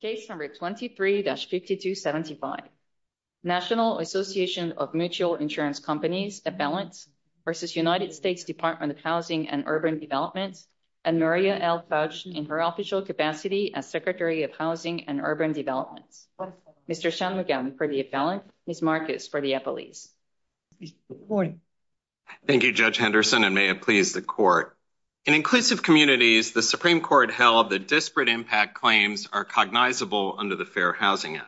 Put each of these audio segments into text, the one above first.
Case No. 23-5275 National Association of Mutual Insurance Companies, Avalanche, v. United States Department of Housing and Urban Development, and Maria L. Fauci in her official capacity as Secretary of Housing and Urban Development. Mr. Shanmugam for the Avalanche, Ms. Marcus for the Eppolese. Good morning. Thank you, Judge Henderson, and may it please the Court. In inclusive communities, the Supreme Court held that disparate impact claims are cognizable under the Fair Housing Act.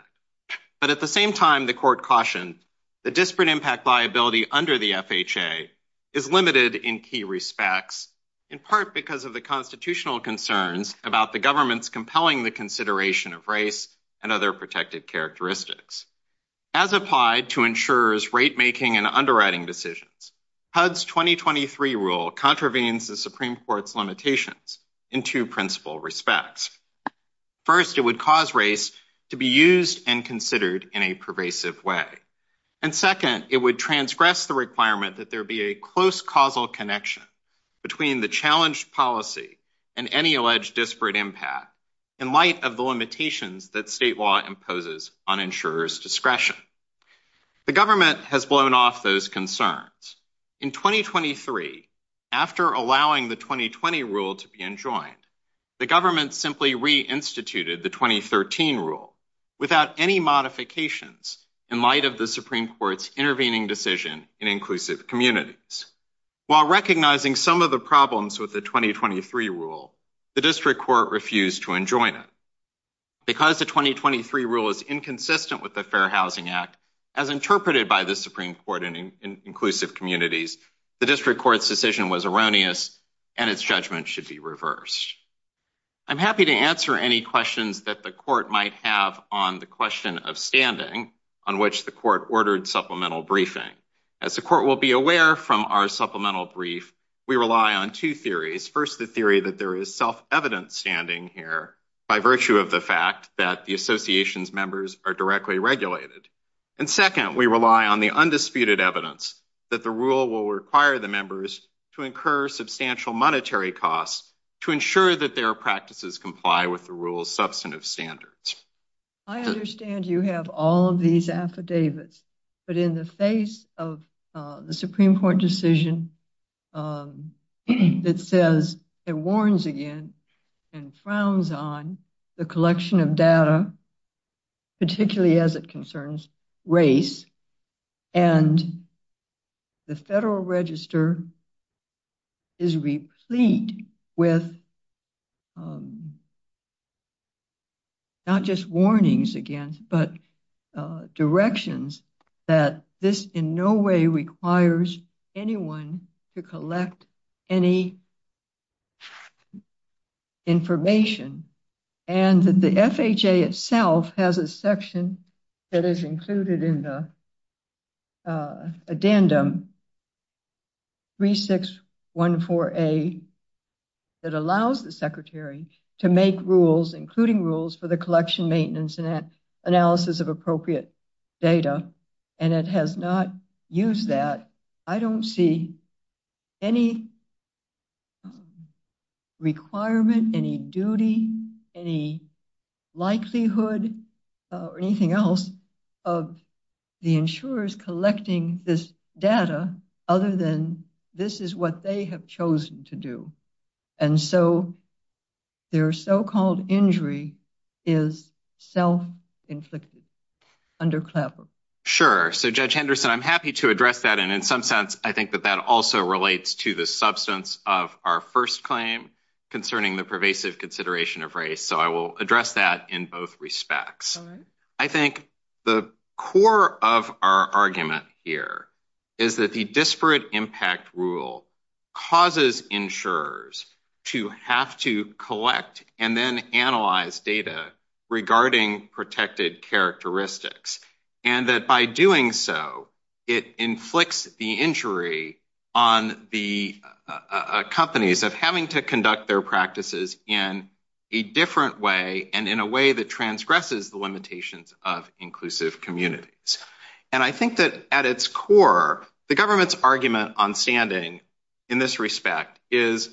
But at the same time, the Court cautioned that disparate impact liability under the FHA is limited in key respects, in part because of the constitutional concerns about the government's compelling consideration of race and other protected characteristics. As applied to insurers' rate-making and underwriting decisions, HUD's 2023 rule contravenes the Supreme Court's limitations in two principal respects. First, it would cause race to be used and considered in a pervasive way. And second, it would transgress the requirement that there be a close causal connection between the challenged policy and any alleged disparate impact in light of the limitations that state law imposes on insurers' discretion. The government has blown off those concerns. In 2023, after allowing the 2020 rule to be enjoined, the government simply reinstituted the 2013 rule without any modifications in light of the Supreme Court's intervening decision in inclusive communities. While recognizing some of the problems with the 2023 rule, the district court refused to enjoin it. Because the 2023 rule is inconsistent with the Fair Housing Act, as interpreted by the Supreme Court in inclusive communities, the district court's decision was erroneous and its judgment should be reversed. I'm happy to answer any questions that the court might have on the question of standing, on which the court ordered supplemental briefing. As the court will be aware from our supplemental brief, we rely on two theories. First, the theory that there is self-evident standing here by virtue of the fact that the association's members are directly regulated. And second, we rely on the undisputed evidence that the rule will require the members to incur substantial monetary costs to ensure that their practices comply with the rule's substantive standards. I understand you have all of these affidavits, but in the face of the Supreme Court decision that says it warns again and frowns on the collection of data, particularly as it concerns race, and the Federal Register is replete with not just warnings again, but directions that this in no way requires anyone to collect any information. And the FHA itself has a section that is included in the addendum 3614A that allows the secretary to make rules, including rules for the collection, maintenance, and analysis of appropriate data. And it has not used that. I don't see any requirement, any duty, any likelihood, or anything else of the insurers collecting this data other than this is what they have chosen to do. And so their so-called injury is self-inflicted under CLEVO. Sure. So, Judge Henderson, I'm happy to address that. And in some sense, I think that that also relates to the substance of our first claim concerning the pervasive consideration of race. So I will address that in both respects. I think the core of our argument here is that the disparate impact rule causes insurers to have to collect and then analyze data regarding protected characteristics. And that by doing so, it inflicts the injury on the companies of having to conduct their practices in a different way and in a way that transgresses the limitations of inclusive communities. And I think that at its core, the government's argument on standing in this respect is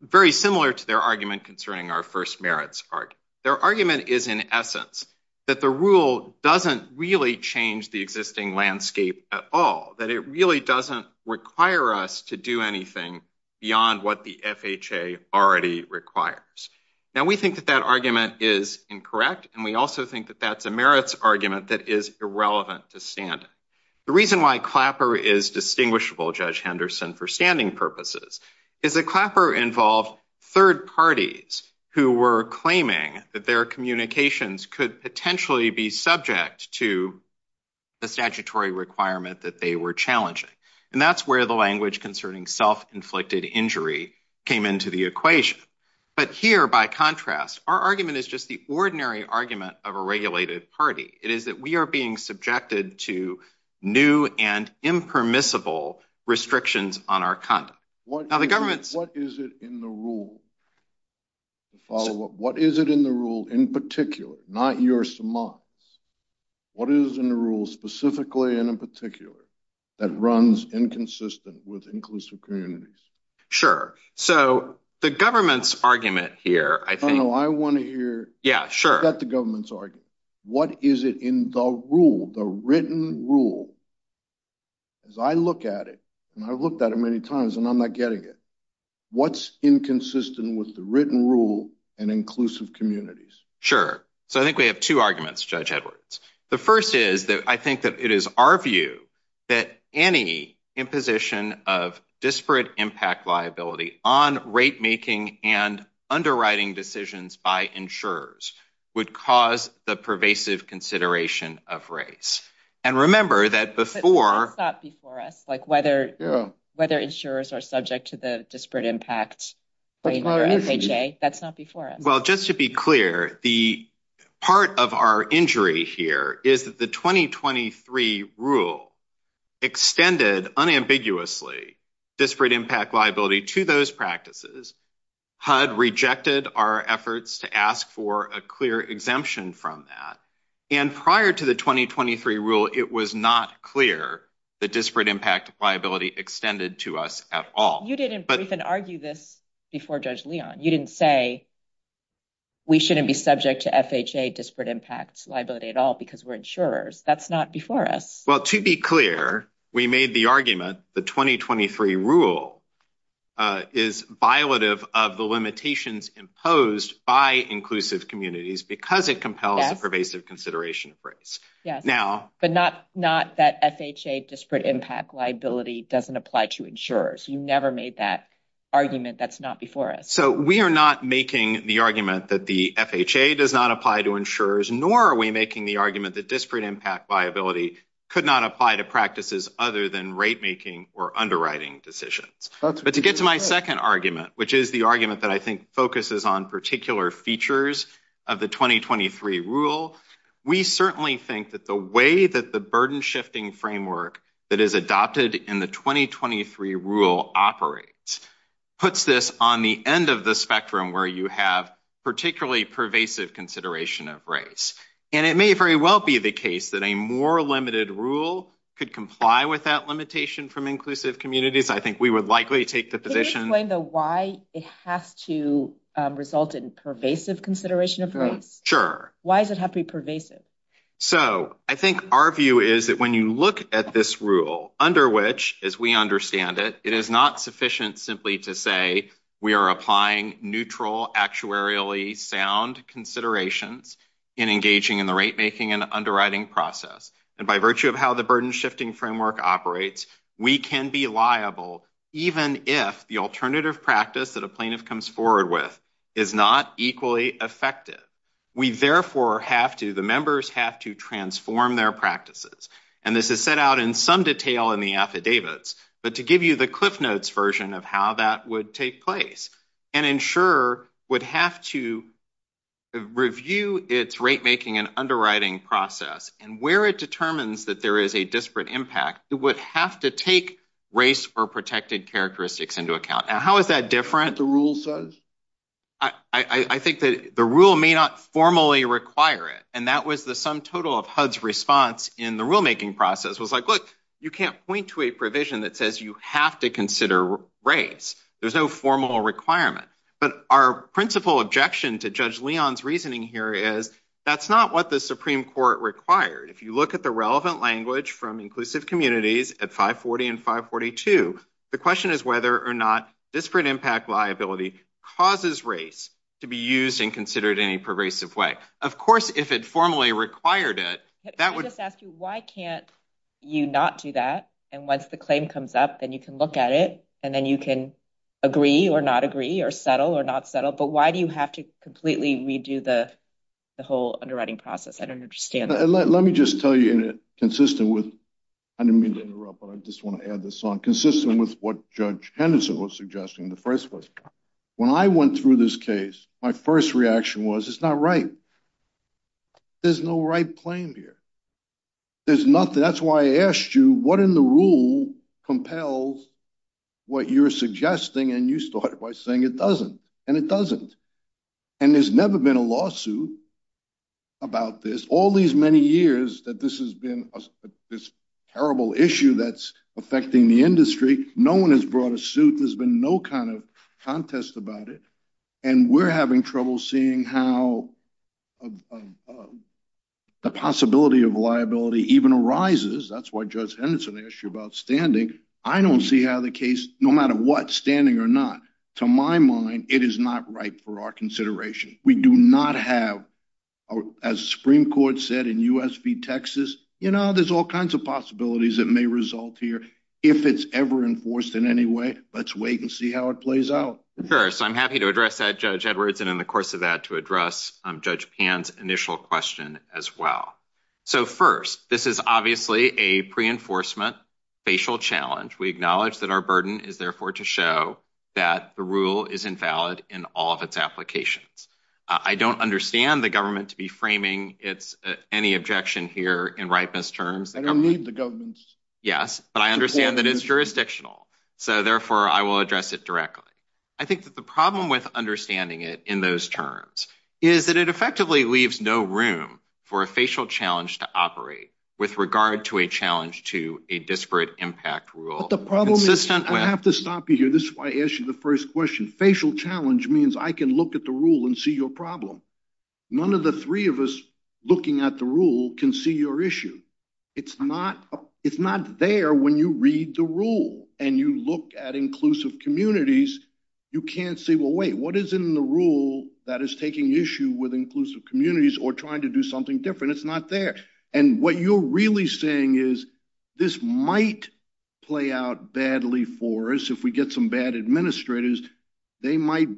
very similar to their argument concerning our first merits. Their argument is, in essence, that the rule doesn't really change the existing landscape at all, that it really doesn't require us to do anything beyond what the FHA already requires. Now, we think that that argument is incorrect, and we also think that that's a merits argument that is irrelevant to standing. The reason why Clapper is distinguishable, Judge Henderson, for standing purposes is that Clapper involved third parties who were claiming that their communications could potentially be subject to the statutory requirement that they were challenging. And that's where the language concerning self-inflicted injury came into the equation. But here, by contrast, our argument is just the ordinary argument of a regulated party. It is that we are being subjected to new and impermissible restrictions on our conduct. What is it in the rule, in particular, not your semantics, what is in the rule specifically and in particular that runs inconsistent with inclusive communities? Sure. So the government's argument here, I think... What's inconsistent with the written rule and inclusive communities? Sure. So I think we have two arguments, Judge Edwards. The first is that I think that it is our view that any imposition of disparate impact liability on rate making and underwriting decisions by insurers would cause the pervasive consideration of race. But that's not before us. Whether insurers are subject to the disparate impact rate or FHA, that's not before us. Well, just to be clear, the part of our injury here is that the 2023 rule extended unambiguously disparate impact liability to those practices. HUD rejected our efforts to ask for a clear exemption from that. And prior to the 2023 rule, it was not clear that disparate impact liability extended to us at all. You didn't even argue this before, Judge Leon. You didn't say we shouldn't be subject to FHA disparate impact liability at all because we're insurers. That's not before us. Well, to be clear, we made the argument the 2023 rule is violative of the limitations imposed by inclusive communities because it compels a pervasive consideration of race. But not that FHA disparate impact liability doesn't apply to insurers. You never made that argument. That's not before us. So we are not making the argument that the FHA does not apply to insurers, nor are we making the argument that disparate impact liability could not apply to practices other than rate making or underwriting decisions. But to get to my second argument, which is the argument that I think focuses on particular features of the 2023 rule, we certainly think that the way that the burden shifting framework that is adopted in the 2023 rule operates puts this on the end of the spectrum where you have particularly pervasive consideration of race. And it may very well be the case that a more limited rule could comply with that limitation from inclusive communities. I think we would likely take the position. Can you explain why it has to result in pervasive consideration of race? Sure. Why does it have to be pervasive? So I think our view is that when you look at this rule under which, as we understand it, it is not sufficient simply to say we are applying neutral actuarially sound considerations in engaging in the rate making and underwriting process. And by virtue of how the burden shifting framework operates, we can be liable even if the alternative practice that a plaintiff comes forward with is not equally effective. We therefore have to, the members have to transform their practices. And this is set out in some detail in the affidavits. But to give you the cliff notes version of how that would take place, an insurer would have to review its rate making and underwriting process. And where it determines that there is a disparate impact, it would have to take race or protected characteristics into account. How is that different? The rule says? I think that the rule may not formally require it. And that was the sum total of HUD's response in the rule making process was like, look, you can't point to a provision that says you have to consider race. There's no formal requirement. But our principal objection to Judge Leon's reasoning here is that's not what the Supreme Court required. If you look at the relevant language from inclusive communities at 540 and 542, the question is whether or not disparate impact liability causes race to be used and considered any pervasive way. Of course, if it formally required it, that would just ask you, why can't you not do that? And once the claim comes up, then you can look at it and then you can agree or not agree or settle or not settle. But why do you have to completely redo the whole underwriting process? I don't understand. Let me just tell you in a consistent with. I didn't mean to interrupt, but I just want to add this on consistent with what Judge Henderson was suggesting. The first was when I went through this case, my first reaction was it's not right. There's no right claim here. There's nothing. That's why I asked you what in the rule compels what you're suggesting. And you started by saying it doesn't and it doesn't. And there's never been a lawsuit about this all these many years that this has been this terrible issue that's affecting the industry. No one has brought a suit. There's been no kind of contest about it. And we're having trouble seeing how the possibility of liability even arises. That's why Judge Henderson asked you about standing. I don't see how the case, no matter what, standing or not. To my mind, it is not right for our consideration. We do not have, as Supreme Court said in US v. Texas, you know, there's all kinds of possibilities that may result here if it's ever enforced in any way. Let's wait and see how it plays out. First, I'm happy to address that, Judge Edwards. And in the course of that, to address Judge Pan's initial question as well. So, first, this is obviously a pre enforcement facial challenge. We acknowledge that our burden is, therefore, to show that the rule is invalid in all of its applications. I don't understand the government to be framing any objection here in ripeness terms. I don't need the government. Yes, but I understand that it's jurisdictional. So, therefore, I will address it directly. I think that the problem with understanding it in those terms is that it effectively leaves no room for a facial challenge to operate with regard to a challenge to a disparate impact rule. I have to stop you here. This is why I asked you the first question. Facial challenge means I can look at the rule and see your problem. None of the three of us looking at the rule can see your issue. It's not there when you read the rule and you look at inclusive communities. You can't say, well, wait, what is in the rule that is taking issue with inclusive communities or trying to do something different? It's not there. And what you're really saying is this might play out badly for us if we get some bad administrators. They might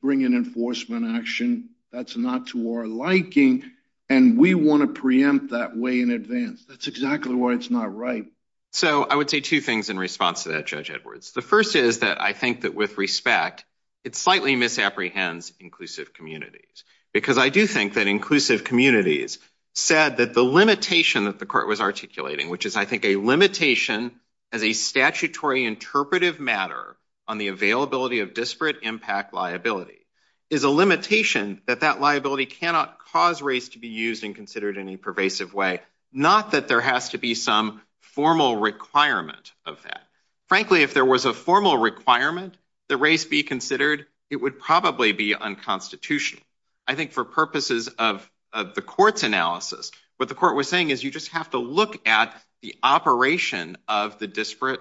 bring an enforcement action that's not to our liking. And we want to preempt that way in advance. That's exactly why it's not right. So, I would say two things in response to that, Judge Edwards. The first is that I think that with respect, it slightly misapprehends inclusive communities. Because I do think that inclusive communities said that the limitation that the court was articulating, which is, I think, a limitation as a statutory interpretive matter on the availability of disparate impact liability, is a limitation that that liability cannot cause race to be used and considered in a pervasive way. Not that there has to be some formal requirement of that. Frankly, if there was a formal requirement that race be considered, it would probably be unconstitutional. I think for purposes of the court's analysis, what the court was saying is you just have to look at the operation of the disparate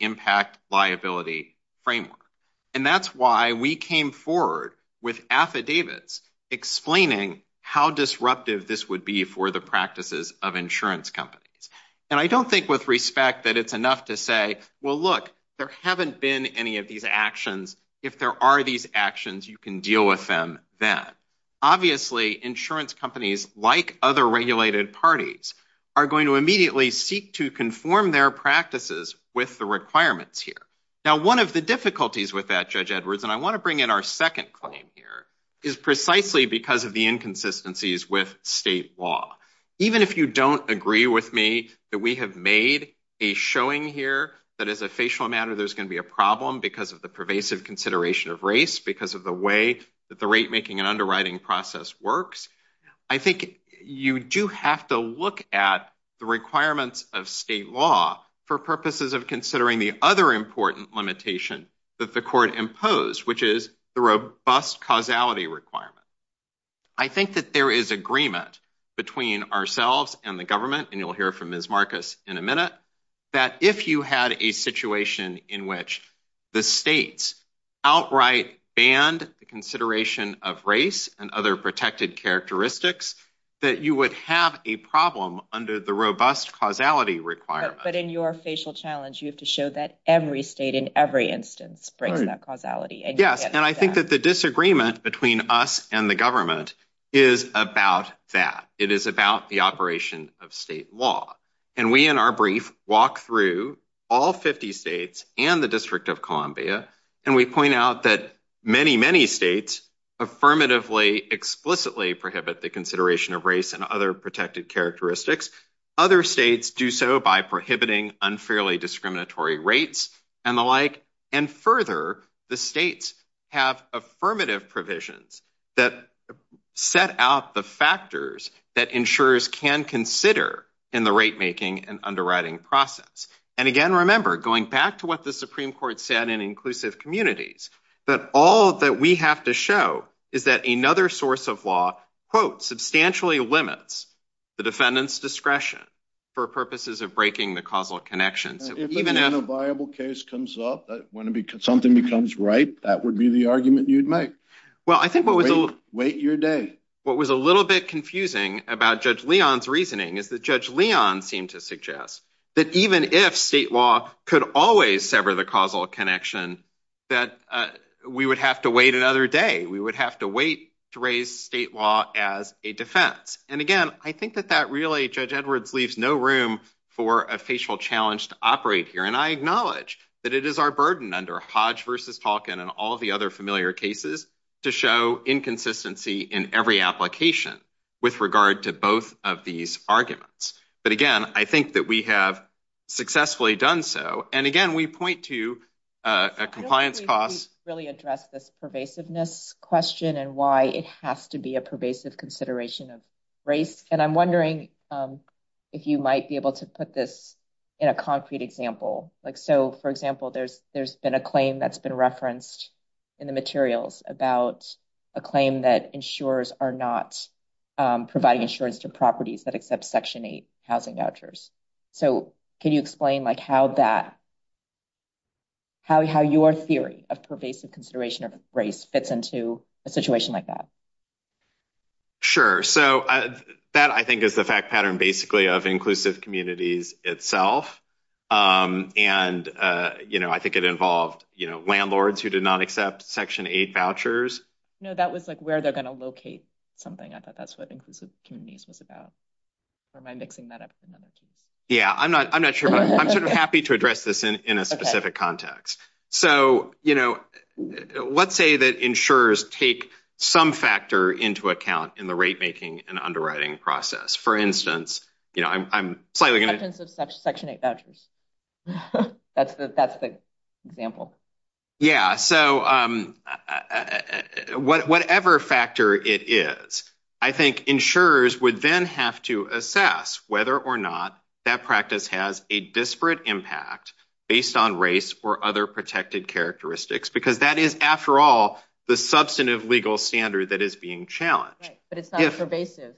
impact liability framework. And that's why we came forward with affidavits explaining how disruptive this would be for the practices of insurance companies. And I don't think with respect that it's enough to say, well, look, there haven't been any of these actions. If there are these actions, you can deal with them then. Obviously, insurance companies, like other regulated parties, are going to immediately seek to conform their practices with the requirements here. Now, one of the difficulties with that, Judge Edwards, and I want to bring in our second claim here, is precisely because of the inconsistencies with state law. Even if you don't agree with me that we have made a showing here that as a facial matter, there's going to be a problem because of the pervasive consideration of race, because of the way that the rate making and underwriting process works. I think you do have to look at the requirements of state law for purposes of considering the other important limitation that the court imposed, which is the robust causality requirement. I think that there is agreement between ourselves and the government, and you'll hear from Ms. Marcus in a minute, that if you had a situation in which the states outright banned the consideration of race and other protected characteristics, that you would have a problem under the robust causality requirement. But in your facial challenge, you have to show that every state in every instance brings that causality. Yes, and I think that the disagreement between us and the government is about that. It is about the operation of state law. And we, in our brief, walk through all 50 states and the District of Columbia, and we point out that many, many states affirmatively, explicitly prohibit the consideration of race and other protected characteristics. Other states do so by prohibiting unfairly discriminatory rates and the like. And further, the states have affirmative provisions that set out the factors that insurers can consider in the rate making and underwriting process. And again, remember, going back to what the Supreme Court said in inclusive communities, that all that we have to show is that another source of law, quote, substantially limits the defendant's discretion for purposes of breaking the causal connections. Even if a viable case comes up, when something becomes ripe, that would be the argument you'd make. Wait your day. And what was a little bit confusing about Judge Leon's reasoning is that Judge Leon seemed to suggest that even if state law could always sever the causal connection, that we would have to wait another day. We would have to wait to raise state law as a defense. And again, I think that that really, Judge Edwards, leaves no room for a facial challenge to operate here. And I acknowledge that it is our burden under Hodge versus Talkin and all the other familiar cases to show inconsistency in every application with regard to both of these arguments. But again, I think that we have successfully done so. And again, we point to compliance costs really address this pervasiveness question and why it has to be a pervasive consideration of race. And I'm wondering if you might be able to put this in a concrete example. Like, so, for example, there's there's been a claim that's been referenced in the materials about a claim that insurers are not providing insurance to properties that accept Section 8 housing vouchers. So can you explain like how that. How how your theory of pervasive consideration of race fits into a situation like that. Sure, so that I think is the fact pattern basically of inclusive communities itself. And, you know, I think it involved landlords who did not accept Section 8 vouchers. No, that was like where they're going to locate something. I thought that's what inclusive communities was about. Or am I mixing that up? Yeah, I'm not I'm not sure, but I'm sort of happy to address this in a specific context. So, you know, let's say that insurers take some factor into account in the rate making and underwriting process. For instance, you know, I'm slightly going to section 8 vouchers. That's the that's the example. Yeah. So whatever factor it is, I think insurers would then have to assess whether or not that practice has a disparate impact based on race or other protected characteristics, because that is, after all, the substantive legal standard that is being challenged. But it's not a pervasive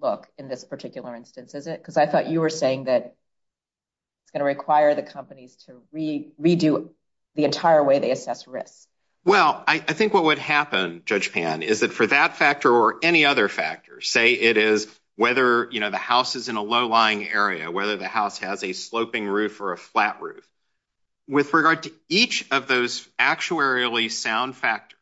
look in this particular instance, is it? Because I thought you were saying that. It's going to require the companies to redo the entire way they assess risk. Well, I think what would happen, Judge Pan, is that for that factor or any other factors, say it is whether, you know, the house is in a low lying area, whether the house has a sloping roof or a flat roof. With regard to each of those actuarially sound factors,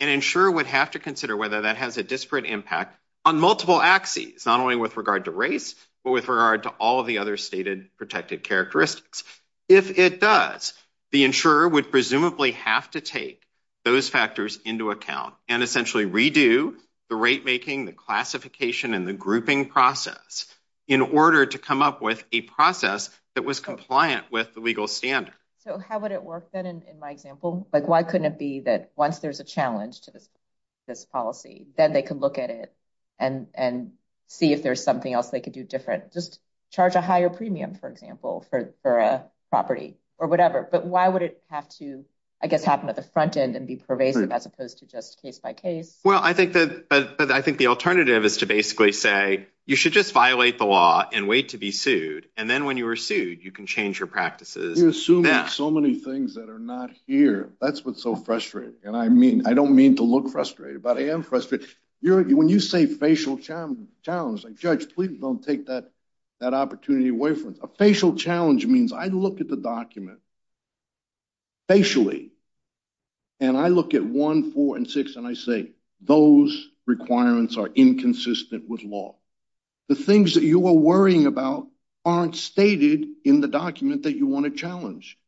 an insurer would have to consider whether that has a disparate impact on multiple axes, not only with regard to race, but with regard to all of the other stated protected characteristics. If it does, the insurer would presumably have to take those factors into account and essentially redo the rate making the classification and the grouping process in order to come up with a process that was compliant with the legal standard. So how would it work, then, in my example? Like, why couldn't it be that once there's a challenge to this policy, then they could look at it and see if there's something else they could do different? Just charge a higher premium, for example, for a property or whatever. But why would it have to, I guess, happen at the front end and be pervasive as opposed to just case by case? Well, I think the alternative is to basically say, you should just violate the law and wait to be sued. And then when you are sued, you can change your practices. You're assuming so many things that are not here. That's what's so frustrating. And I mean, I don't mean to look frustrated, but I am frustrated. When you say facial challenge, like, Judge, please don't take that opportunity away from us. A facial challenge means I look at the document facially, and I look at one, four, and six, and I say, those requirements are inconsistent with law. The things that you are worrying about aren't stated in the document that you want to challenge.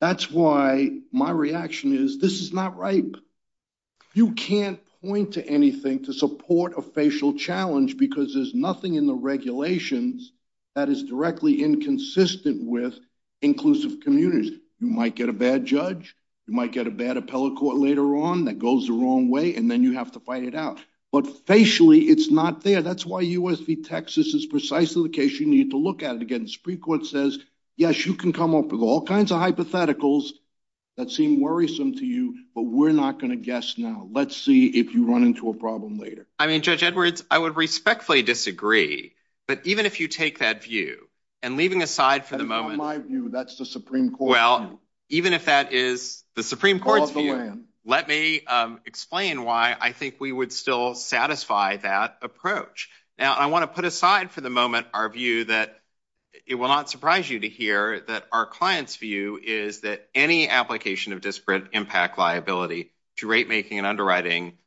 That's why my reaction is, this is not right. You can't point to anything to support a facial challenge because there's nothing in the regulations that is directly inconsistent with inclusive communities. You might get a bad judge. You might get a bad appellate court later on that goes the wrong way, and then you have to fight it out. But facially, it's not there. That's why U.S. v. Texas is precisely the case you need to look at. Again, the Supreme Court says, yes, you can come up with all kinds of hypotheticals that seem worrisome to you, but we're not going to guess now. Let's see if you run into a problem later. I mean, Judge Edwards, I would respectfully disagree. But even if you take that view, and leaving aside for the moment. In my view, that's the Supreme Court's view. Well, even if that is the Supreme Court's view, let me explain why I think we would still satisfy that approach. Now, I want to put aside for the moment our view that it will not surprise you to hear that our client's view is that any application of disparate impact liability to rate-making and underwriting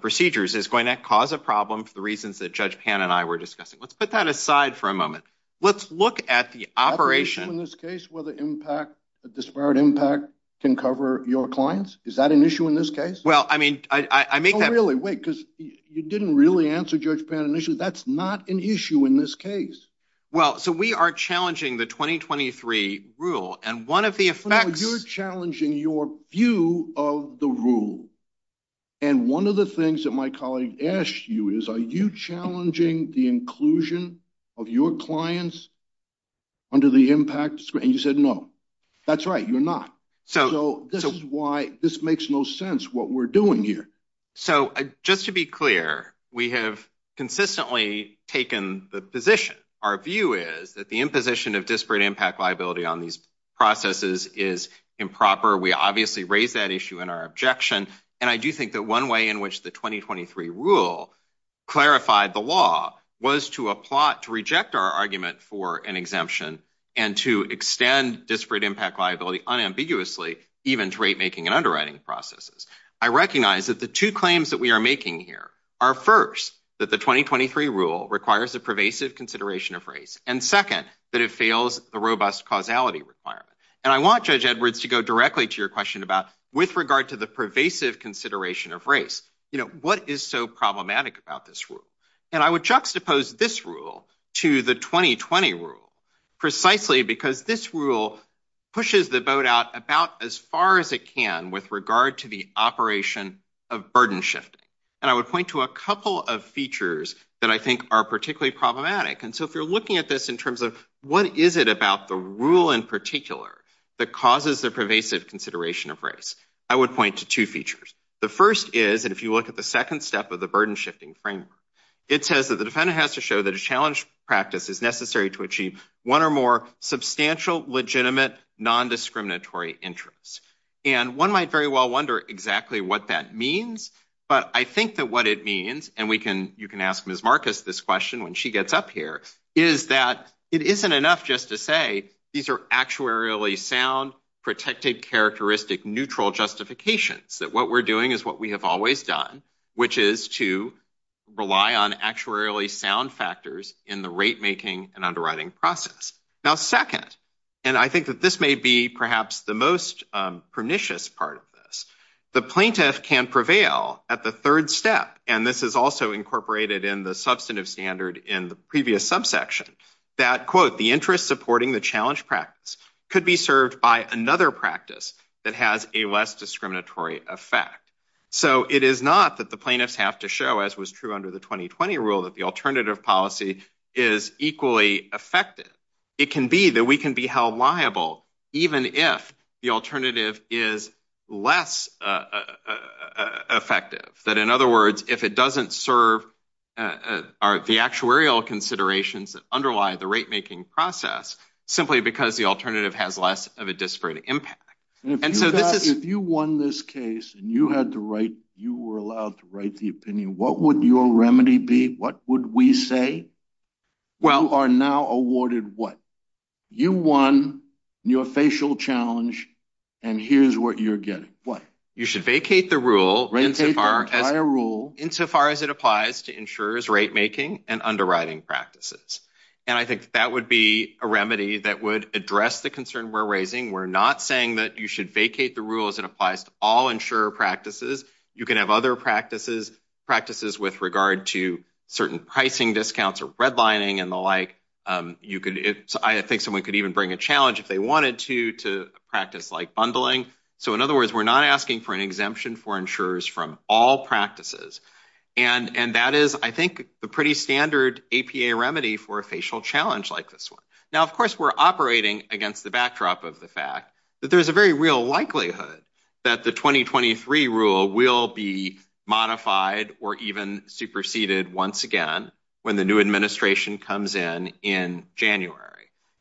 procedures is going to cause a problem for the reasons that Judge Pan and I were discussing. Let's put that aside for a moment. Let's look at the operation. Is that an issue in this case, whether disparate impact can cover your clients? Is that an issue in this case? No, really, wait, because you didn't really answer Judge Pan initially. That's not an issue in this case. Well, so we are challenging the 2023 rule, and one of the effects… No, you're challenging your view of the rule. And one of the things that my colleague asked you is, are you challenging the inclusion of your clients under the impact? And you said no. That's right, you're not. So this is why this makes no sense, what we're doing here. So just to be clear, we have consistently taken the position. Our view is that the imposition of disparate impact liability on these processes is improper. We obviously raised that issue in our objection. And I do think that one way in which the 2023 rule clarified the law was to reject our argument for an exemption and to extend disparate impact liability unambiguously, even to rate-making and underwriting processes. I recognize that the two claims that we are making here are, first, that the 2023 rule requires a pervasive consideration of race, and second, that it fails the robust causality requirement. And I want Judge Edwards to go directly to your question about, with regard to the pervasive consideration of race, what is so problematic about this rule? And I would juxtapose this rule to the 2020 rule precisely because this rule pushes the boat out about as far as it can with regard to the operation of burden shifting. And I would point to a couple of features that I think are particularly problematic. And so if you're looking at this in terms of what is it about the rule in particular that causes the pervasive consideration of race, I would point to two features. The first is that if you look at the second step of the burden shifting framework, it says that the defendant has to show that a challenge practice is necessary to achieve one or more substantial, legitimate, nondiscriminatory interests. And one might very well wonder exactly what that means. But I think that what it means, and you can ask Ms. Marcus this question when she gets up here, is that it isn't enough just to say these are actuarially sound, protected, characteristic, neutral justifications. That what we're doing is what we have always done, which is to rely on actuarially sound factors in the rate making and underwriting process. Now, second, and I think that this may be perhaps the most pernicious part of this, the plaintiff can prevail at the third step. And this is also incorporated in the substantive standard in the previous subsection that, quote, the interest supporting the challenge practice could be served by another practice that has a less discriminatory effect. So it is not that the plaintiffs have to show, as was true under the 2020 rule, that the alternative policy is equally effective. It can be that we can be held liable even if the alternative is less effective. That, in other words, if it doesn't serve the actuarial considerations that underlie the rate making process simply because the alternative has less of a disparate impact. If you won this case and you were allowed to write the opinion, what would your remedy be? What would we say? You are now awarded what? You won your facial challenge, and here's what you're getting. What? You should vacate the rule. Vacate the entire rule. Insofar as it applies to insurer's rate making and underwriting practices. And I think that would be a remedy that would address the concern we're raising. We're not saying that you should vacate the rule as it applies to all insurer practices. You can have other practices with regard to certain pricing discounts or redlining and the like. I think someone could even bring a challenge if they wanted to to practice like bundling. So, in other words, we're not asking for an exemption for insurers from all practices. And that is, I think, the pretty standard APA remedy for a facial challenge like this one. Now, of course, we're operating against the backdrop of the fact that there's a very real likelihood that the 2023 rule will be modified or even superseded once again when the new administration comes in in January.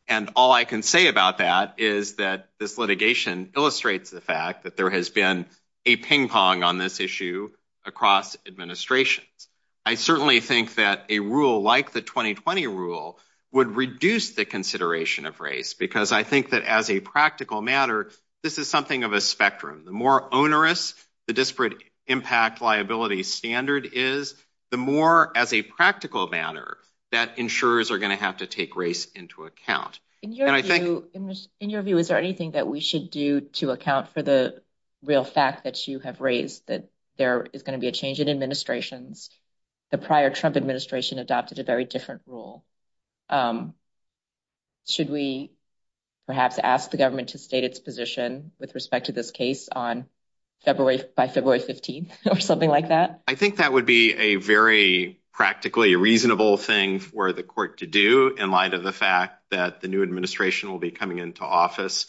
And all I can say about that is that this litigation illustrates the fact that there has been a ping pong on this issue across administrations. I certainly think that a rule like the 2020 rule would reduce the consideration of race because I think that as a practical matter, this is something of a spectrum. The more onerous the disparate impact liability standard is, the more as a practical matter that insurers are going to have to take race into account. In your view, is there anything that we should do to account for the real fact that you have raised that there is going to be a change in administrations? The prior Trump administration adopted a very different rule. Should we perhaps ask the government to state its position with respect to this case on February by February 15th or something like that? I think that would be a very practically reasonable thing for the court to do in light of the fact that the new administration will be coming into office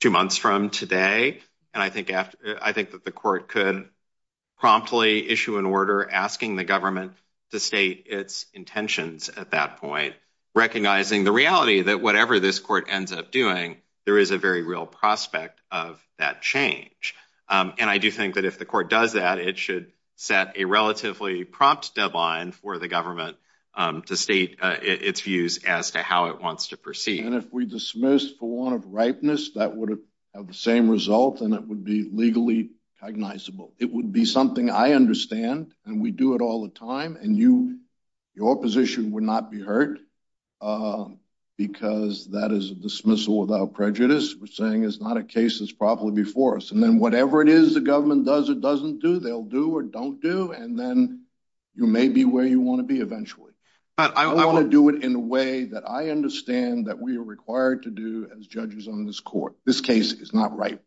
two months from today. And I think I think that the court could promptly issue an order asking the government to state its intentions at that point, recognizing the reality that whatever this court ends up doing, there is a very real prospect of that change. And I do think that if the court does that, it should set a relatively prompt deadline for the government to state its views as to how it wants to proceed. And if we dismiss for one of ripeness, that would have the same result and it would be legally cognizable. It would be something I understand and we do it all the time. And you your position would not be hurt because that is a dismissal without prejudice. We're saying it's not a case that's probably before us. And then whatever it is the government does, it doesn't do. They'll do or don't do. And then you may be where you want to be eventually. But I want to do it in a way that I understand that we are required to do as judges on this court. This case is not right.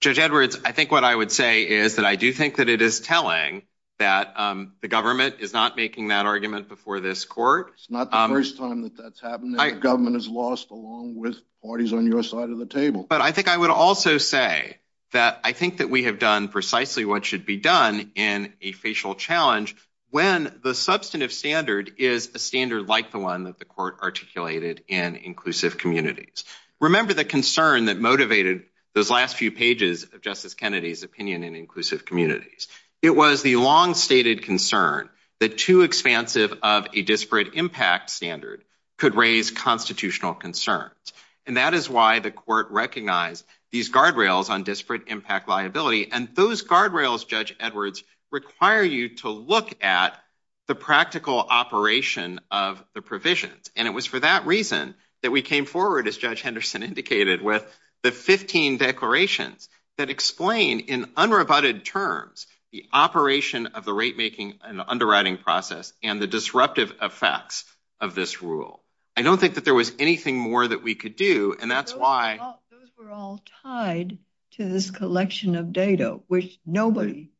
Judge Edwards, I think what I would say is that I do think that it is telling that the government is not making that argument before this court. It's not the first time that that's happened. The government has lost along with parties on your side of the table. But I think I would also say that I think that we have done precisely what should be done in a facial challenge. When the substantive standard is a standard like the one that the court articulated in inclusive communities. Remember the concern that motivated those last few pages of Justice Kennedy's opinion in inclusive communities. It was the long stated concern that too expansive of a disparate impact standard could raise constitutional concerns. And that is why the court recognized these guardrails on disparate impact liability. And those guardrails, Judge Edwards, require you to look at the practical operation of the provisions. And it was for that reason that we came forward, as Judge Henderson indicated, with the 15 declarations that explain in unrebutted terms the operation of the rate making and underwriting process and the disruptive effects of this rule. I don't think that there was anything more that we could do. And that's why. Those were all tied to this collection of data, which nobody,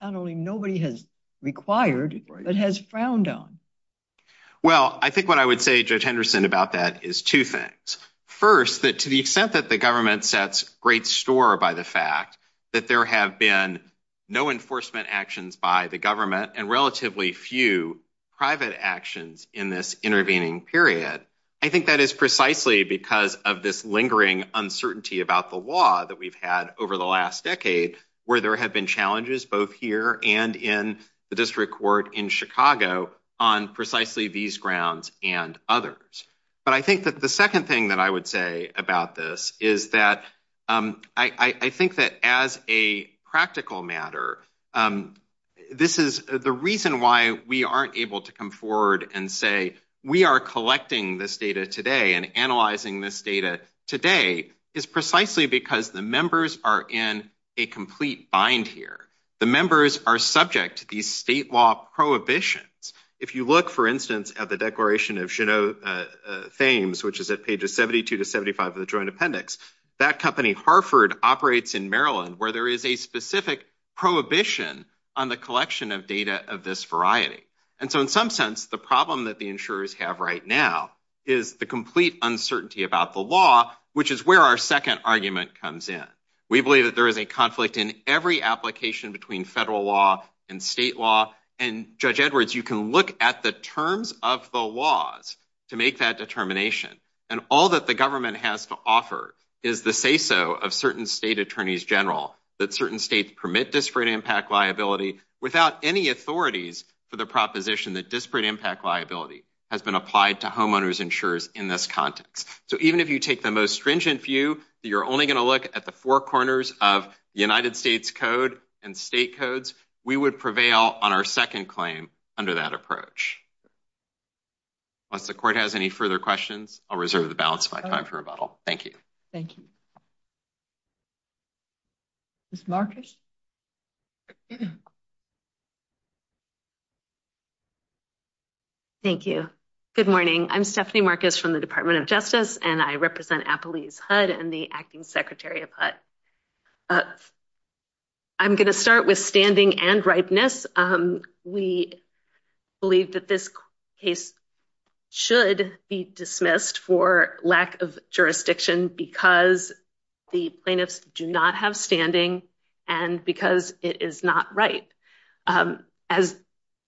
not only nobody has required, but has frowned on. Well, I think what I would say, Judge Henderson, about that is two things. First, that to the extent that the government sets great store by the fact that there have been no enforcement actions by the government and relatively few private actions in this intervening period. I think that is precisely because of this lingering uncertainty about the law that we've had over the last decade, where there have been challenges both here and in the district court in Chicago on precisely these grounds and others. But I think that the second thing that I would say about this is that I think that as a practical matter, this is the reason why we aren't able to come forward and say we are collecting this data today and analyzing this data today is precisely because the members are in a complete bind here. The members are subject to these state law prohibitions. If you look, for instance, at the Declaration of Genoa Thames, which is at pages 72 to 75 of the Joint Appendix, that company, Harford, operates in Maryland, where there is a specific prohibition on the collection of data of this variety. And so in some sense, the problem that the insurers have right now is the complete uncertainty about the law, which is where our second argument comes in. We believe that there is a conflict in every application between federal law and state law. And, Judge Edwards, you can look at the terms of the laws to make that determination. And all that the government has to offer is the say-so of certain state attorneys general that certain states permit disparate impact liability without any authorities for the proposition that disparate impact liability has been applied to homeowners insurers in this context. So even if you take the most stringent view that you're only going to look at the four corners of the United States Code and state codes, we would prevail on our second claim under that approach. Unless the court has any further questions, I'll reserve the balance of my time for rebuttal. Thank you. Thank you. Ms. Marcus? Thank you. Good morning. I'm Stephanie Marcus from the Department of Justice, and I represent Appalachia's HUD and the acting secretary of HUD. I'm going to start with standing and ripeness. We believe that this case should be dismissed for lack of jurisdiction because the plaintiffs do not have standing and because it is not right. As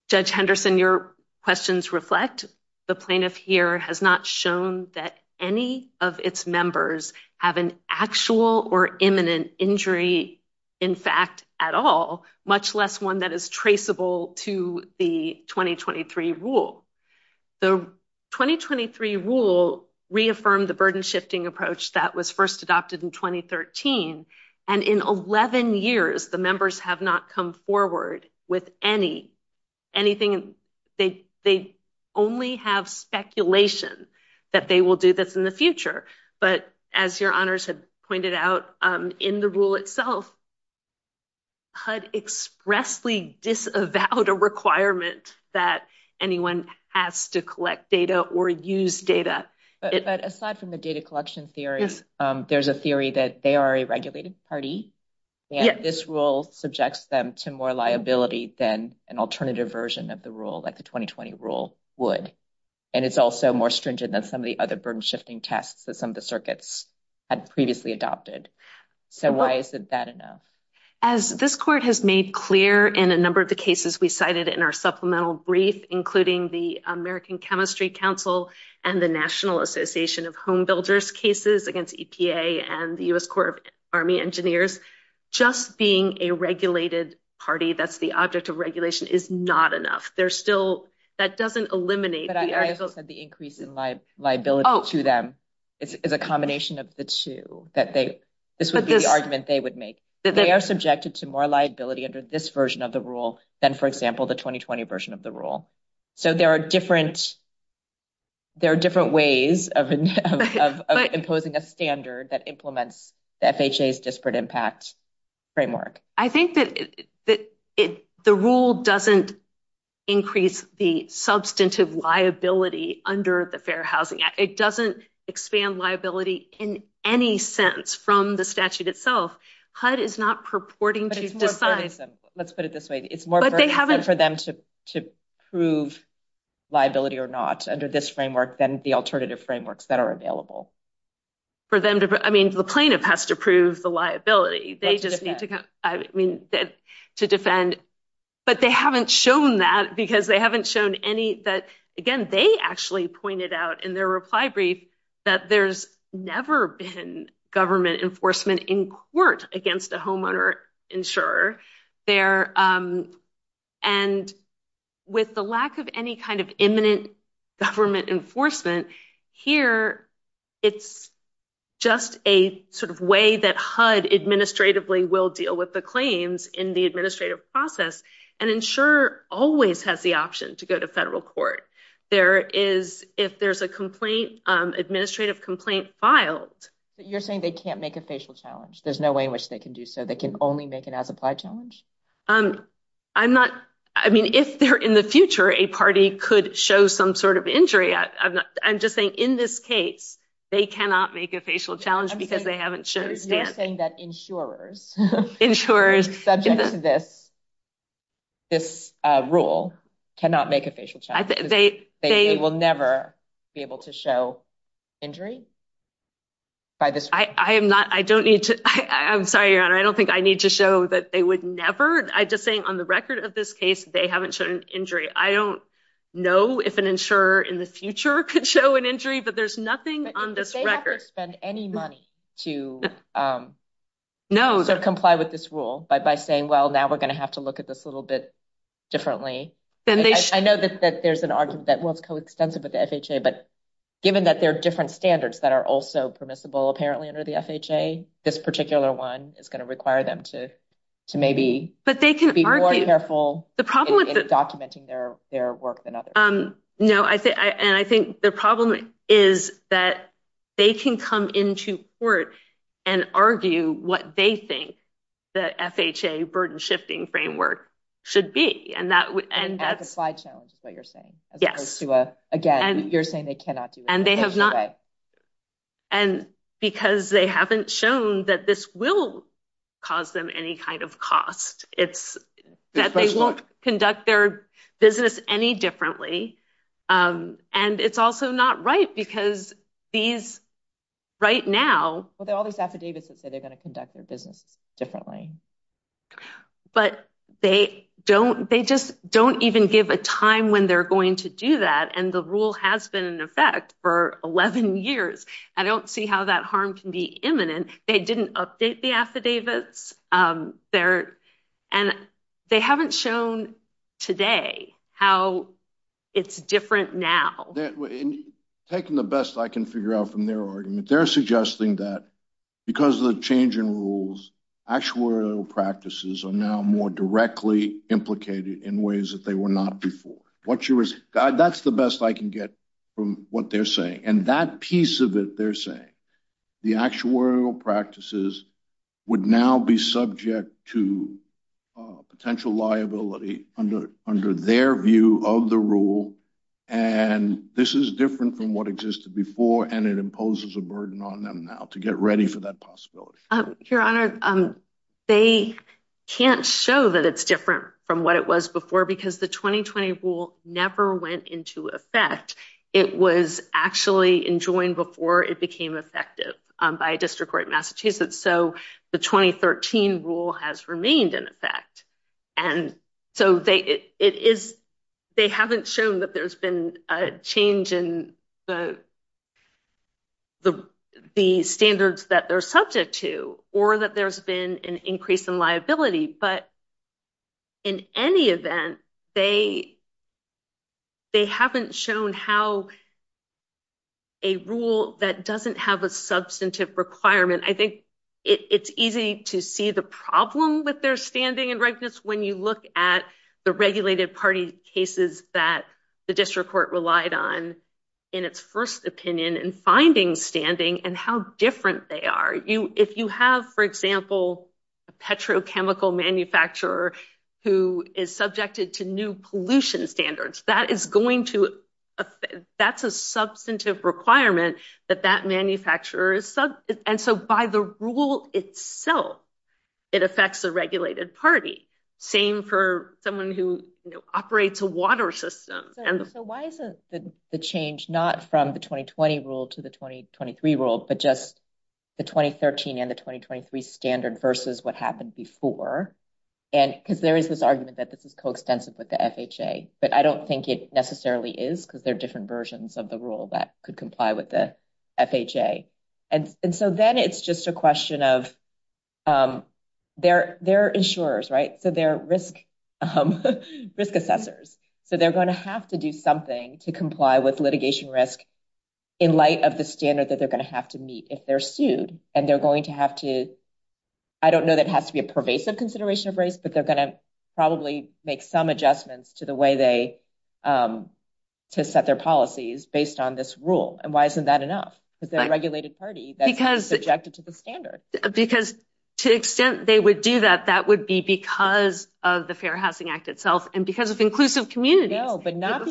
Judge Henderson, your questions reflect, the plaintiff here has not shown that any of its members have an actual or imminent injury in fact at all, much less one that is traceable to the 2023 rule. The 2023 rule reaffirmed the burden-shifting approach that was first adopted in 2013, and in 11 years, the members have not come forward with anything. They only have speculation that they will do this in the future, but as your honors have pointed out, in the rule itself, HUD expressly disavowed a requirement that anyone has to collect data or use data. But aside from the data collection theories, there's a theory that they are a regulated party, and this rule subjects them to more liability than an alternative version of the rule, like the 2020 rule would. And it's also more stringent than some of the other burden-shifting tests that some of the circuits had previously adopted. So why isn't that enough? As this court has made clear in a number of the cases we cited in our supplemental brief, including the American Chemistry Council and the National Association of Home Builders cases against EPA and the U.S. Corps of Army Engineers, just being a regulated party, that's the object of regulation, is not enough. That doesn't eliminate the article. But I also said the increase in liability to them is a combination of the two. This would be the argument they would make. They are subjected to more liability under this version of the rule than, for example, the 2020 version of the rule. So there are different ways of imposing a standard that implements the FHA's disparate impact framework. I think that the rule doesn't increase the substantive liability under the Fair Housing Act. It doesn't expand liability in any sense from the statute itself. HUD is not purporting to decide. Let's put it this way. It's more for them to prove liability or not under this framework than the alternative frameworks that are available. I mean, the plaintiff has to prove the liability. They just need to defend. But they haven't shown that because they haven't shown any that, again, they actually pointed out in their reply brief that there's never been government enforcement in court against a homeowner insurer. And with the lack of any kind of imminent government enforcement here, it's just a sort of way that HUD administratively will deal with the claims in the administrative process and insurer always has the option to go to federal court. There is if there's a complaint, administrative complaint filed. You're saying they can't make a facial challenge. There's no way in which they can do so. They can only make it as applied challenge. I'm not. I mean, if they're in the future, a party could show some sort of injury. I'm just saying in this case, they cannot make a facial challenge because they haven't shown. You're saying that insurers. Subject to this. This rule cannot make a facial. They will never be able to show injury. By this, I am not. I don't need to. I'm sorry. I don't think I need to show that they would never. I just saying on the record of this case, they haven't shown injury. I don't know if an insurer in the future could show an injury, but there's nothing on this record. To comply with this rule by by saying, well, now we're going to have to look at this a little bit differently. I know that there's an argument that was coextensive with the FHA, but given that there are different standards that are also permissible, apparently under the FHA, this particular one is going to require them to to maybe. But they can be more careful. The problem with documenting their their work. No, I think. And I think the problem is that they can come into court and argue what they think the FHA burden shifting framework should be. And that and that's why challenges what you're saying. Yes. Again, you're saying they cannot do and they have not. And because they haven't shown that this will cause them any kind of cost, it's that they won't conduct their business any different. And it's also not right because these right now with all these affidavits that say they're going to conduct their business differently. But they don't they just don't even give a time when they're going to do that. And the rule has been in effect for 11 years. I don't see how that harm can be imminent. They didn't update the affidavits there. And they haven't shown today how it's different now. Taking the best I can figure out from their argument, they're suggesting that because of the change in rules, actuarial practices are now more directly implicated in ways that they were not before. That's the best I can get from what they're saying. And that piece of it they're saying the actuarial practices would now be subject to potential liability under their view of the rule. And this is different from what existed before. And it imposes a burden on them now to get ready for that possibility. Your Honor, they can't show that it's different from what it was before because the 2020 rule never went into effect. It was actually enjoined before it became effective by District Court Massachusetts. So the 2013 rule has remained in effect. And so they haven't shown that there's been a change in the standards that they're subject to or that there's been an increase in liability. But in any event, they haven't shown how a rule that doesn't have a substantive requirement. I think it's easy to see the problem with their standing and rightness when you look at the regulated party cases that the District Court relied on in its first opinion and finding standing and how different they are. If you have, for example, a petrochemical manufacturer who is subjected to new pollution standards, that's a substantive requirement that that manufacturer is subject. And so by the rule itself, it affects the regulated party. Same for someone who operates a water system. So why isn't the change not from the 2020 rule to the 2023 rule, but just the 2013 and the 2023 standard versus what happened before? And because there is this argument that this is coextensive with the FHA, but I don't think it necessarily is because there are different versions of the rule that could comply with the FHA. And so then it's just a question of their insurers, right? So they're risk assessors. So they're going to have to do something to comply with litigation risk in light of the standard that they're going to have to meet if they're sued. And they're going to have to, I don't know that has to be a pervasive consideration of race, but they're going to probably make some adjustments to the way they to set their policies based on this rule. And why isn't that enough? Because they're a regulated party that's subjected to the standard. Because to the extent they would do that, that would be because of the Fair Housing Act itself and because of inclusive communities. No, but not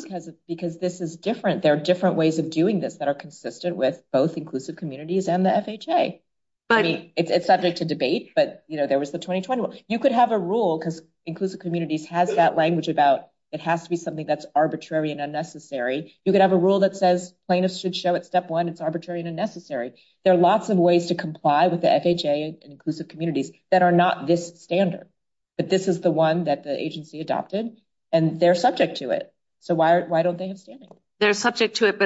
because this is different. There are different ways of doing this that are consistent with both inclusive communities and the FHA. I mean, it's subject to debate, but there was the 2020 rule. You could have a rule because inclusive communities has that language about it has to be something that's arbitrary and unnecessary. You could have a rule that says plaintiffs should show at step one it's arbitrary and unnecessary. There are lots of ways to comply with the FHA and inclusive communities that are not this standard. But this is the one that the agency adopted, and they're subject to it. So why don't they have standing? They're subject to it,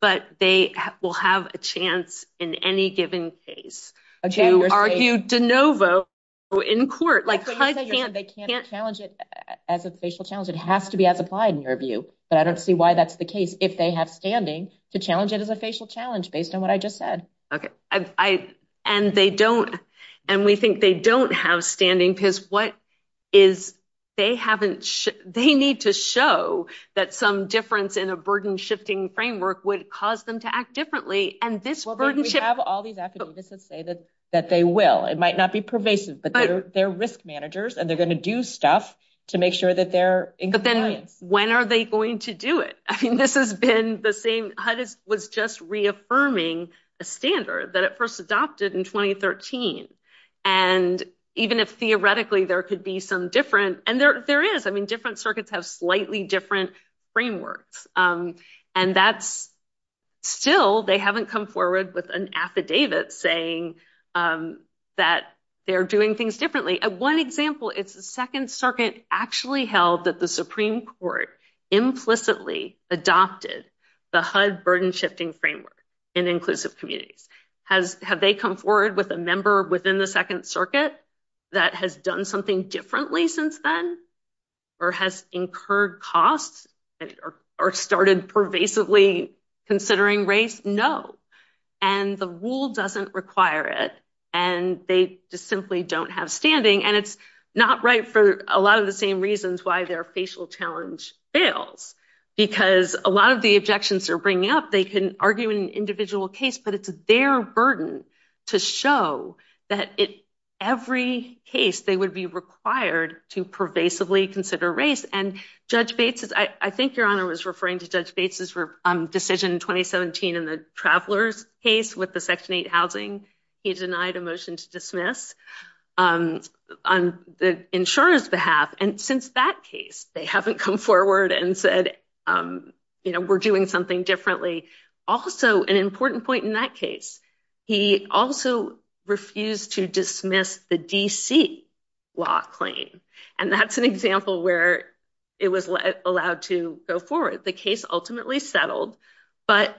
but they will have a chance in any given case to argue de novo in court. They can't challenge it as a facial challenge. It has to be as applied in your view. But I don't see why that's the case if they have standing to challenge it as a facial challenge based on what I just said. And we think they don't have standing because they need to show that some difference in a burden-shifting framework would cause them to act differently. We have all these affidavits that say that they will. It might not be pervasive, but they're risk managers, and they're going to do stuff to make sure that they're in compliance. But then when are they going to do it? I mean, HUD was just reaffirming a standard that it first adopted in 2013. And even if theoretically there could be some different – and there is. I mean, different circuits have slightly different frameworks. And that's still – they haven't come forward with an affidavit saying that they're doing things differently. One example, it's the Second Circuit actually held that the Supreme Court implicitly adopted the HUD burden-shifting framework in inclusive communities. Have they come forward with a member within the Second Circuit that has done something differently since then or has incurred costs or started pervasively considering race? No. And the rule doesn't require it, and they just simply don't have standing. And it's not right for a lot of the same reasons why their facial challenge fails. Because a lot of the objections they're bringing up, they can argue in an individual case, but it's their burden to show that in every case they would be required to pervasively consider race. And Judge Bates – I think Your Honor was referring to Judge Bates' decision in 2017 in the travelers case with the Section 8 housing. He denied a motion to dismiss on the insurer's behalf. And since that case, they haven't come forward and said, you know, we're doing something differently. Also, an important point in that case, he also refused to dismiss the D.C. law claim. And that's an example where it was allowed to go forward. The case ultimately settled. But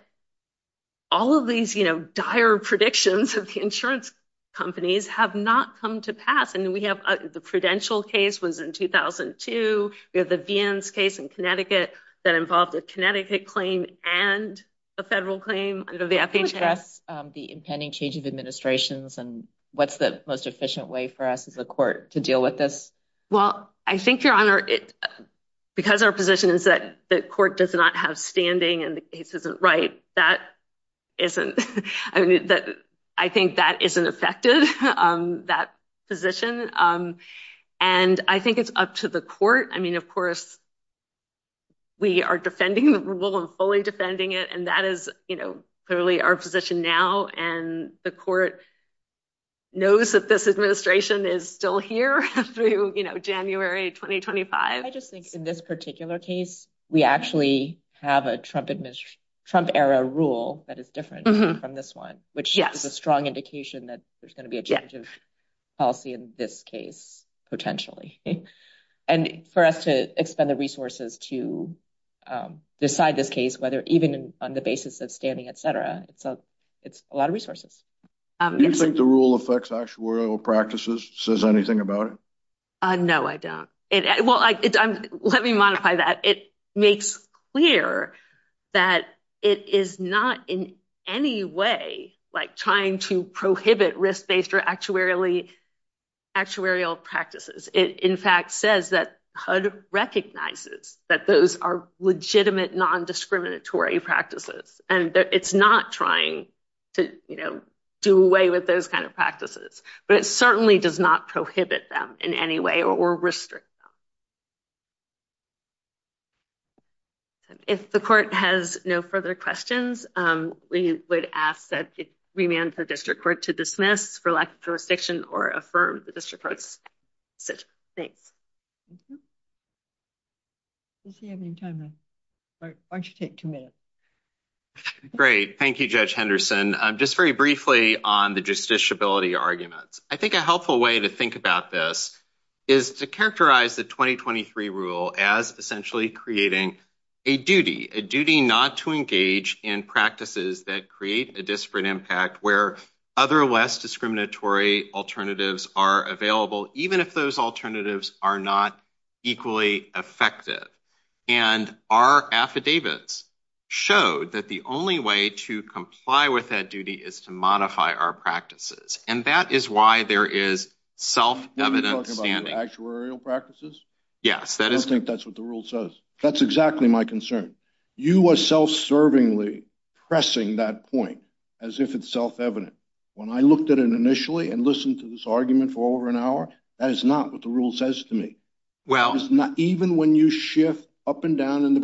all of these, you know, dire predictions of the insurance companies have not come to pass. And we have the Prudential case was in 2002. We have the Vians case in Connecticut that involved a Connecticut claim and a federal claim. Can you address the impending change of administrations and what's the most efficient way for us as a court to deal with this? Well, I think, Your Honor, because our position is that the court does not have standing and the case isn't right, that isn't – I think that isn't effective. That position. And I think it's up to the court. I mean, of course, we are defending the rule and fully defending it. And that is, you know, clearly our position now. And the court knows that this administration is still here through, you know, January 2025. I just think in this particular case, we actually have a Trump era rule that is different from this one, which is a strong indication that there's going to be a change of policy in this case, potentially. And for us to expend the resources to decide this case, whether even on the basis of standing, et cetera, it's a lot of resources. Do you think the rule affects actuarial practices, says anything about it? No, I don't. Well, let me modify that. It makes clear that it is not in any way, like, trying to prohibit risk-based or actuarial practices. It, in fact, says that HUD recognizes that those are legitimate, nondiscriminatory practices. And it's not trying to, you know, do away with those kind of practices. But it certainly does not prohibit them in any way or restrict them. If the court has no further questions, we would ask that it remand the district court to dismiss for lack of jurisdiction or affirm the district court's decision. Thanks. Does he have any time left? Why don't you take two minutes? Great. Thank you, Judge Henderson. Just very briefly on the justiciability arguments. I think a helpful way to think about this is to characterize the 2023 rule as essentially creating a duty, a duty not to engage in practices that create a disparate impact where other less discriminatory alternatives are available, even if those alternatives are not equally effective. And our affidavits showed that the only way to comply with that duty is to modify our practices. And that is why there is self-evident standing. Are you talking about actuarial practices? Yes. I don't think that's what the rule says. That's exactly my concern. You are self-servingly pressing that point as if it's self-evident. When I looked at it initially and listened to this argument for over an hour, that is not what the rule says to me. Even when you shift up and down.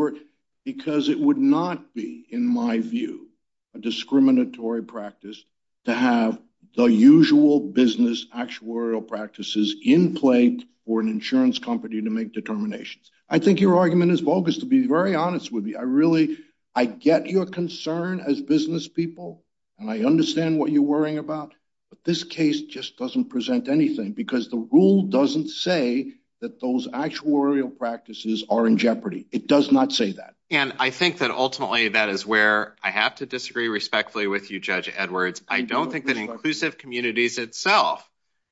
Because it would not be, in my view, a discriminatory practice to have the usual business actuarial practices in place for an insurance company to make determinations. I think your argument is bogus, to be very honest with you. I get your concern as business people, and I understand what you're worrying about. But this case just doesn't present anything because the rule doesn't say that those actuarial practices are in jeopardy. It does not say that. And I think that ultimately that is where I have to disagree respectfully with you, Judge Edwards. I don't think that inclusive communities itself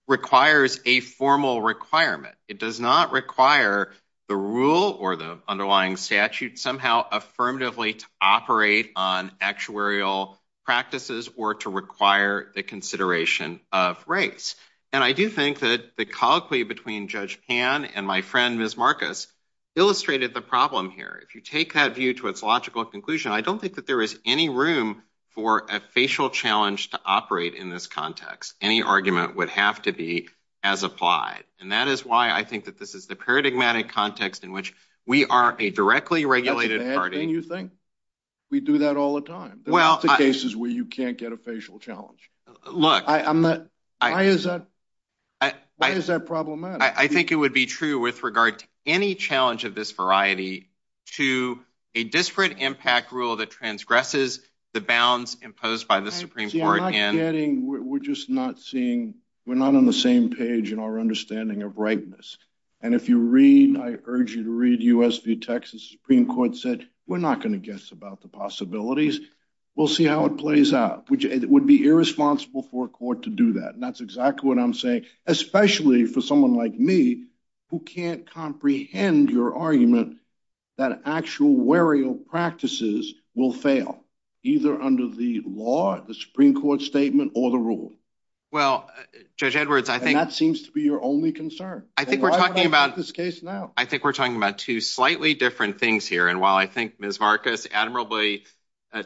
requires a formal requirement. It does not require the rule or the underlying statute somehow affirmatively to operate on actuarial practices or to require the consideration of race. And I do think that the colloquy between Judge Pan and my friend, Ms. Marcus, illustrated the problem here. If you take that view to its logical conclusion, I don't think that there is any room for a facial challenge to operate in this context. Any argument would have to be as applied. And that is why I think that this is the paradigmatic context in which we are a directly regulated party. That's a bad thing, you think? We do that all the time. There are lots of cases where you can't get a facial challenge. Look. Why is that problematic? I think it would be true with regard to any challenge of this variety to a disparate impact rule that transgresses the bounds imposed by the Supreme Court. We're just not seeing, we're not on the same page in our understanding of rightness. And if you read, I urge you to read U.S. v. Texas, the Supreme Court said, we're not going to guess about the possibilities. We'll see how it plays out, which would be irresponsible for a court to do that. And that's exactly what I'm saying, especially for someone like me, who can't comprehend your argument that actual warrior practices will fail either under the law, the Supreme Court statement or the rule. Well, Judge Edwards, I think that seems to be your only concern. I think we're talking about this case now. I think we're talking about two slightly different things here. And while I think Ms. Marcus admirably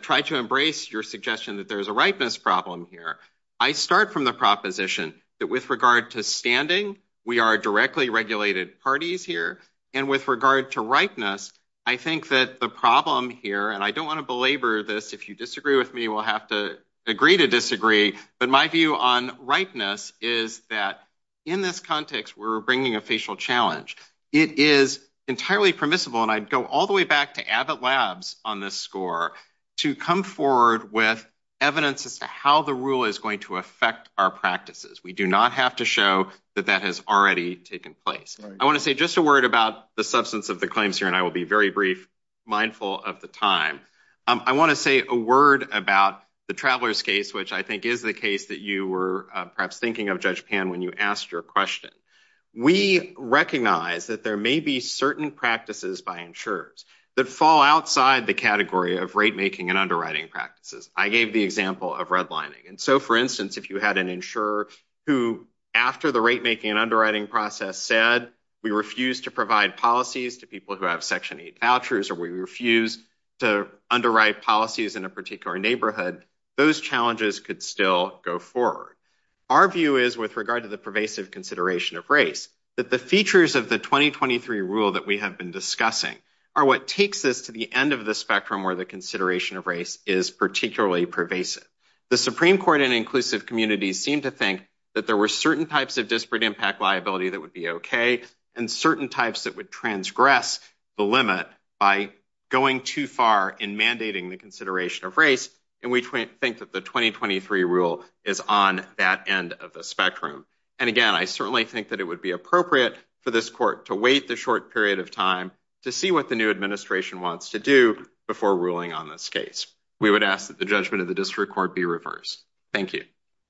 tried to embrace your suggestion that there is a rightness problem here, I start from the proposition that with regard to standing, we are directly regulated parties here. And with regard to rightness, I think that the problem here and I don't want to belabor this. If you disagree with me, we'll have to agree to disagree. But my view on rightness is that in this context, we're bringing a facial challenge. It is entirely permissible. And I'd go all the way back to Abbott Labs on this score to come forward with evidence as to how the rule is going to affect our practices. We do not have to show that that has already taken place. I want to say just a word about the substance of the claims here. And I will be very brief, mindful of the time. I want to say a word about the travelers case, which I think is the case that you were perhaps thinking of, Judge Pan, when you asked your question. We recognize that there may be certain practices by insurers that fall outside the category of rate-making and underwriting practices. I gave the example of redlining. And so, for instance, if you had an insurer who, after the rate-making and underwriting process, said we refuse to provide policies to people who have Section 8 vouchers or we refuse to underwrite policies in a particular neighborhood, those challenges could still go forward. Our view is, with regard to the pervasive consideration of race, that the features of the 2023 rule that we have been discussing are what takes us to the end of the spectrum where the consideration of race is particularly pervasive. The Supreme Court and inclusive communities seem to think that there were certain types of disparate impact liability that would be okay and certain types that would transgress the limit by going too far in mandating the consideration of race. And we think that the 2023 rule is on that end of the spectrum. And, again, I certainly think that it would be appropriate for this court to wait the short period of time to see what the new administration wants to do before ruling on this case. We would ask that the judgment of the district court be reversed. Thank you.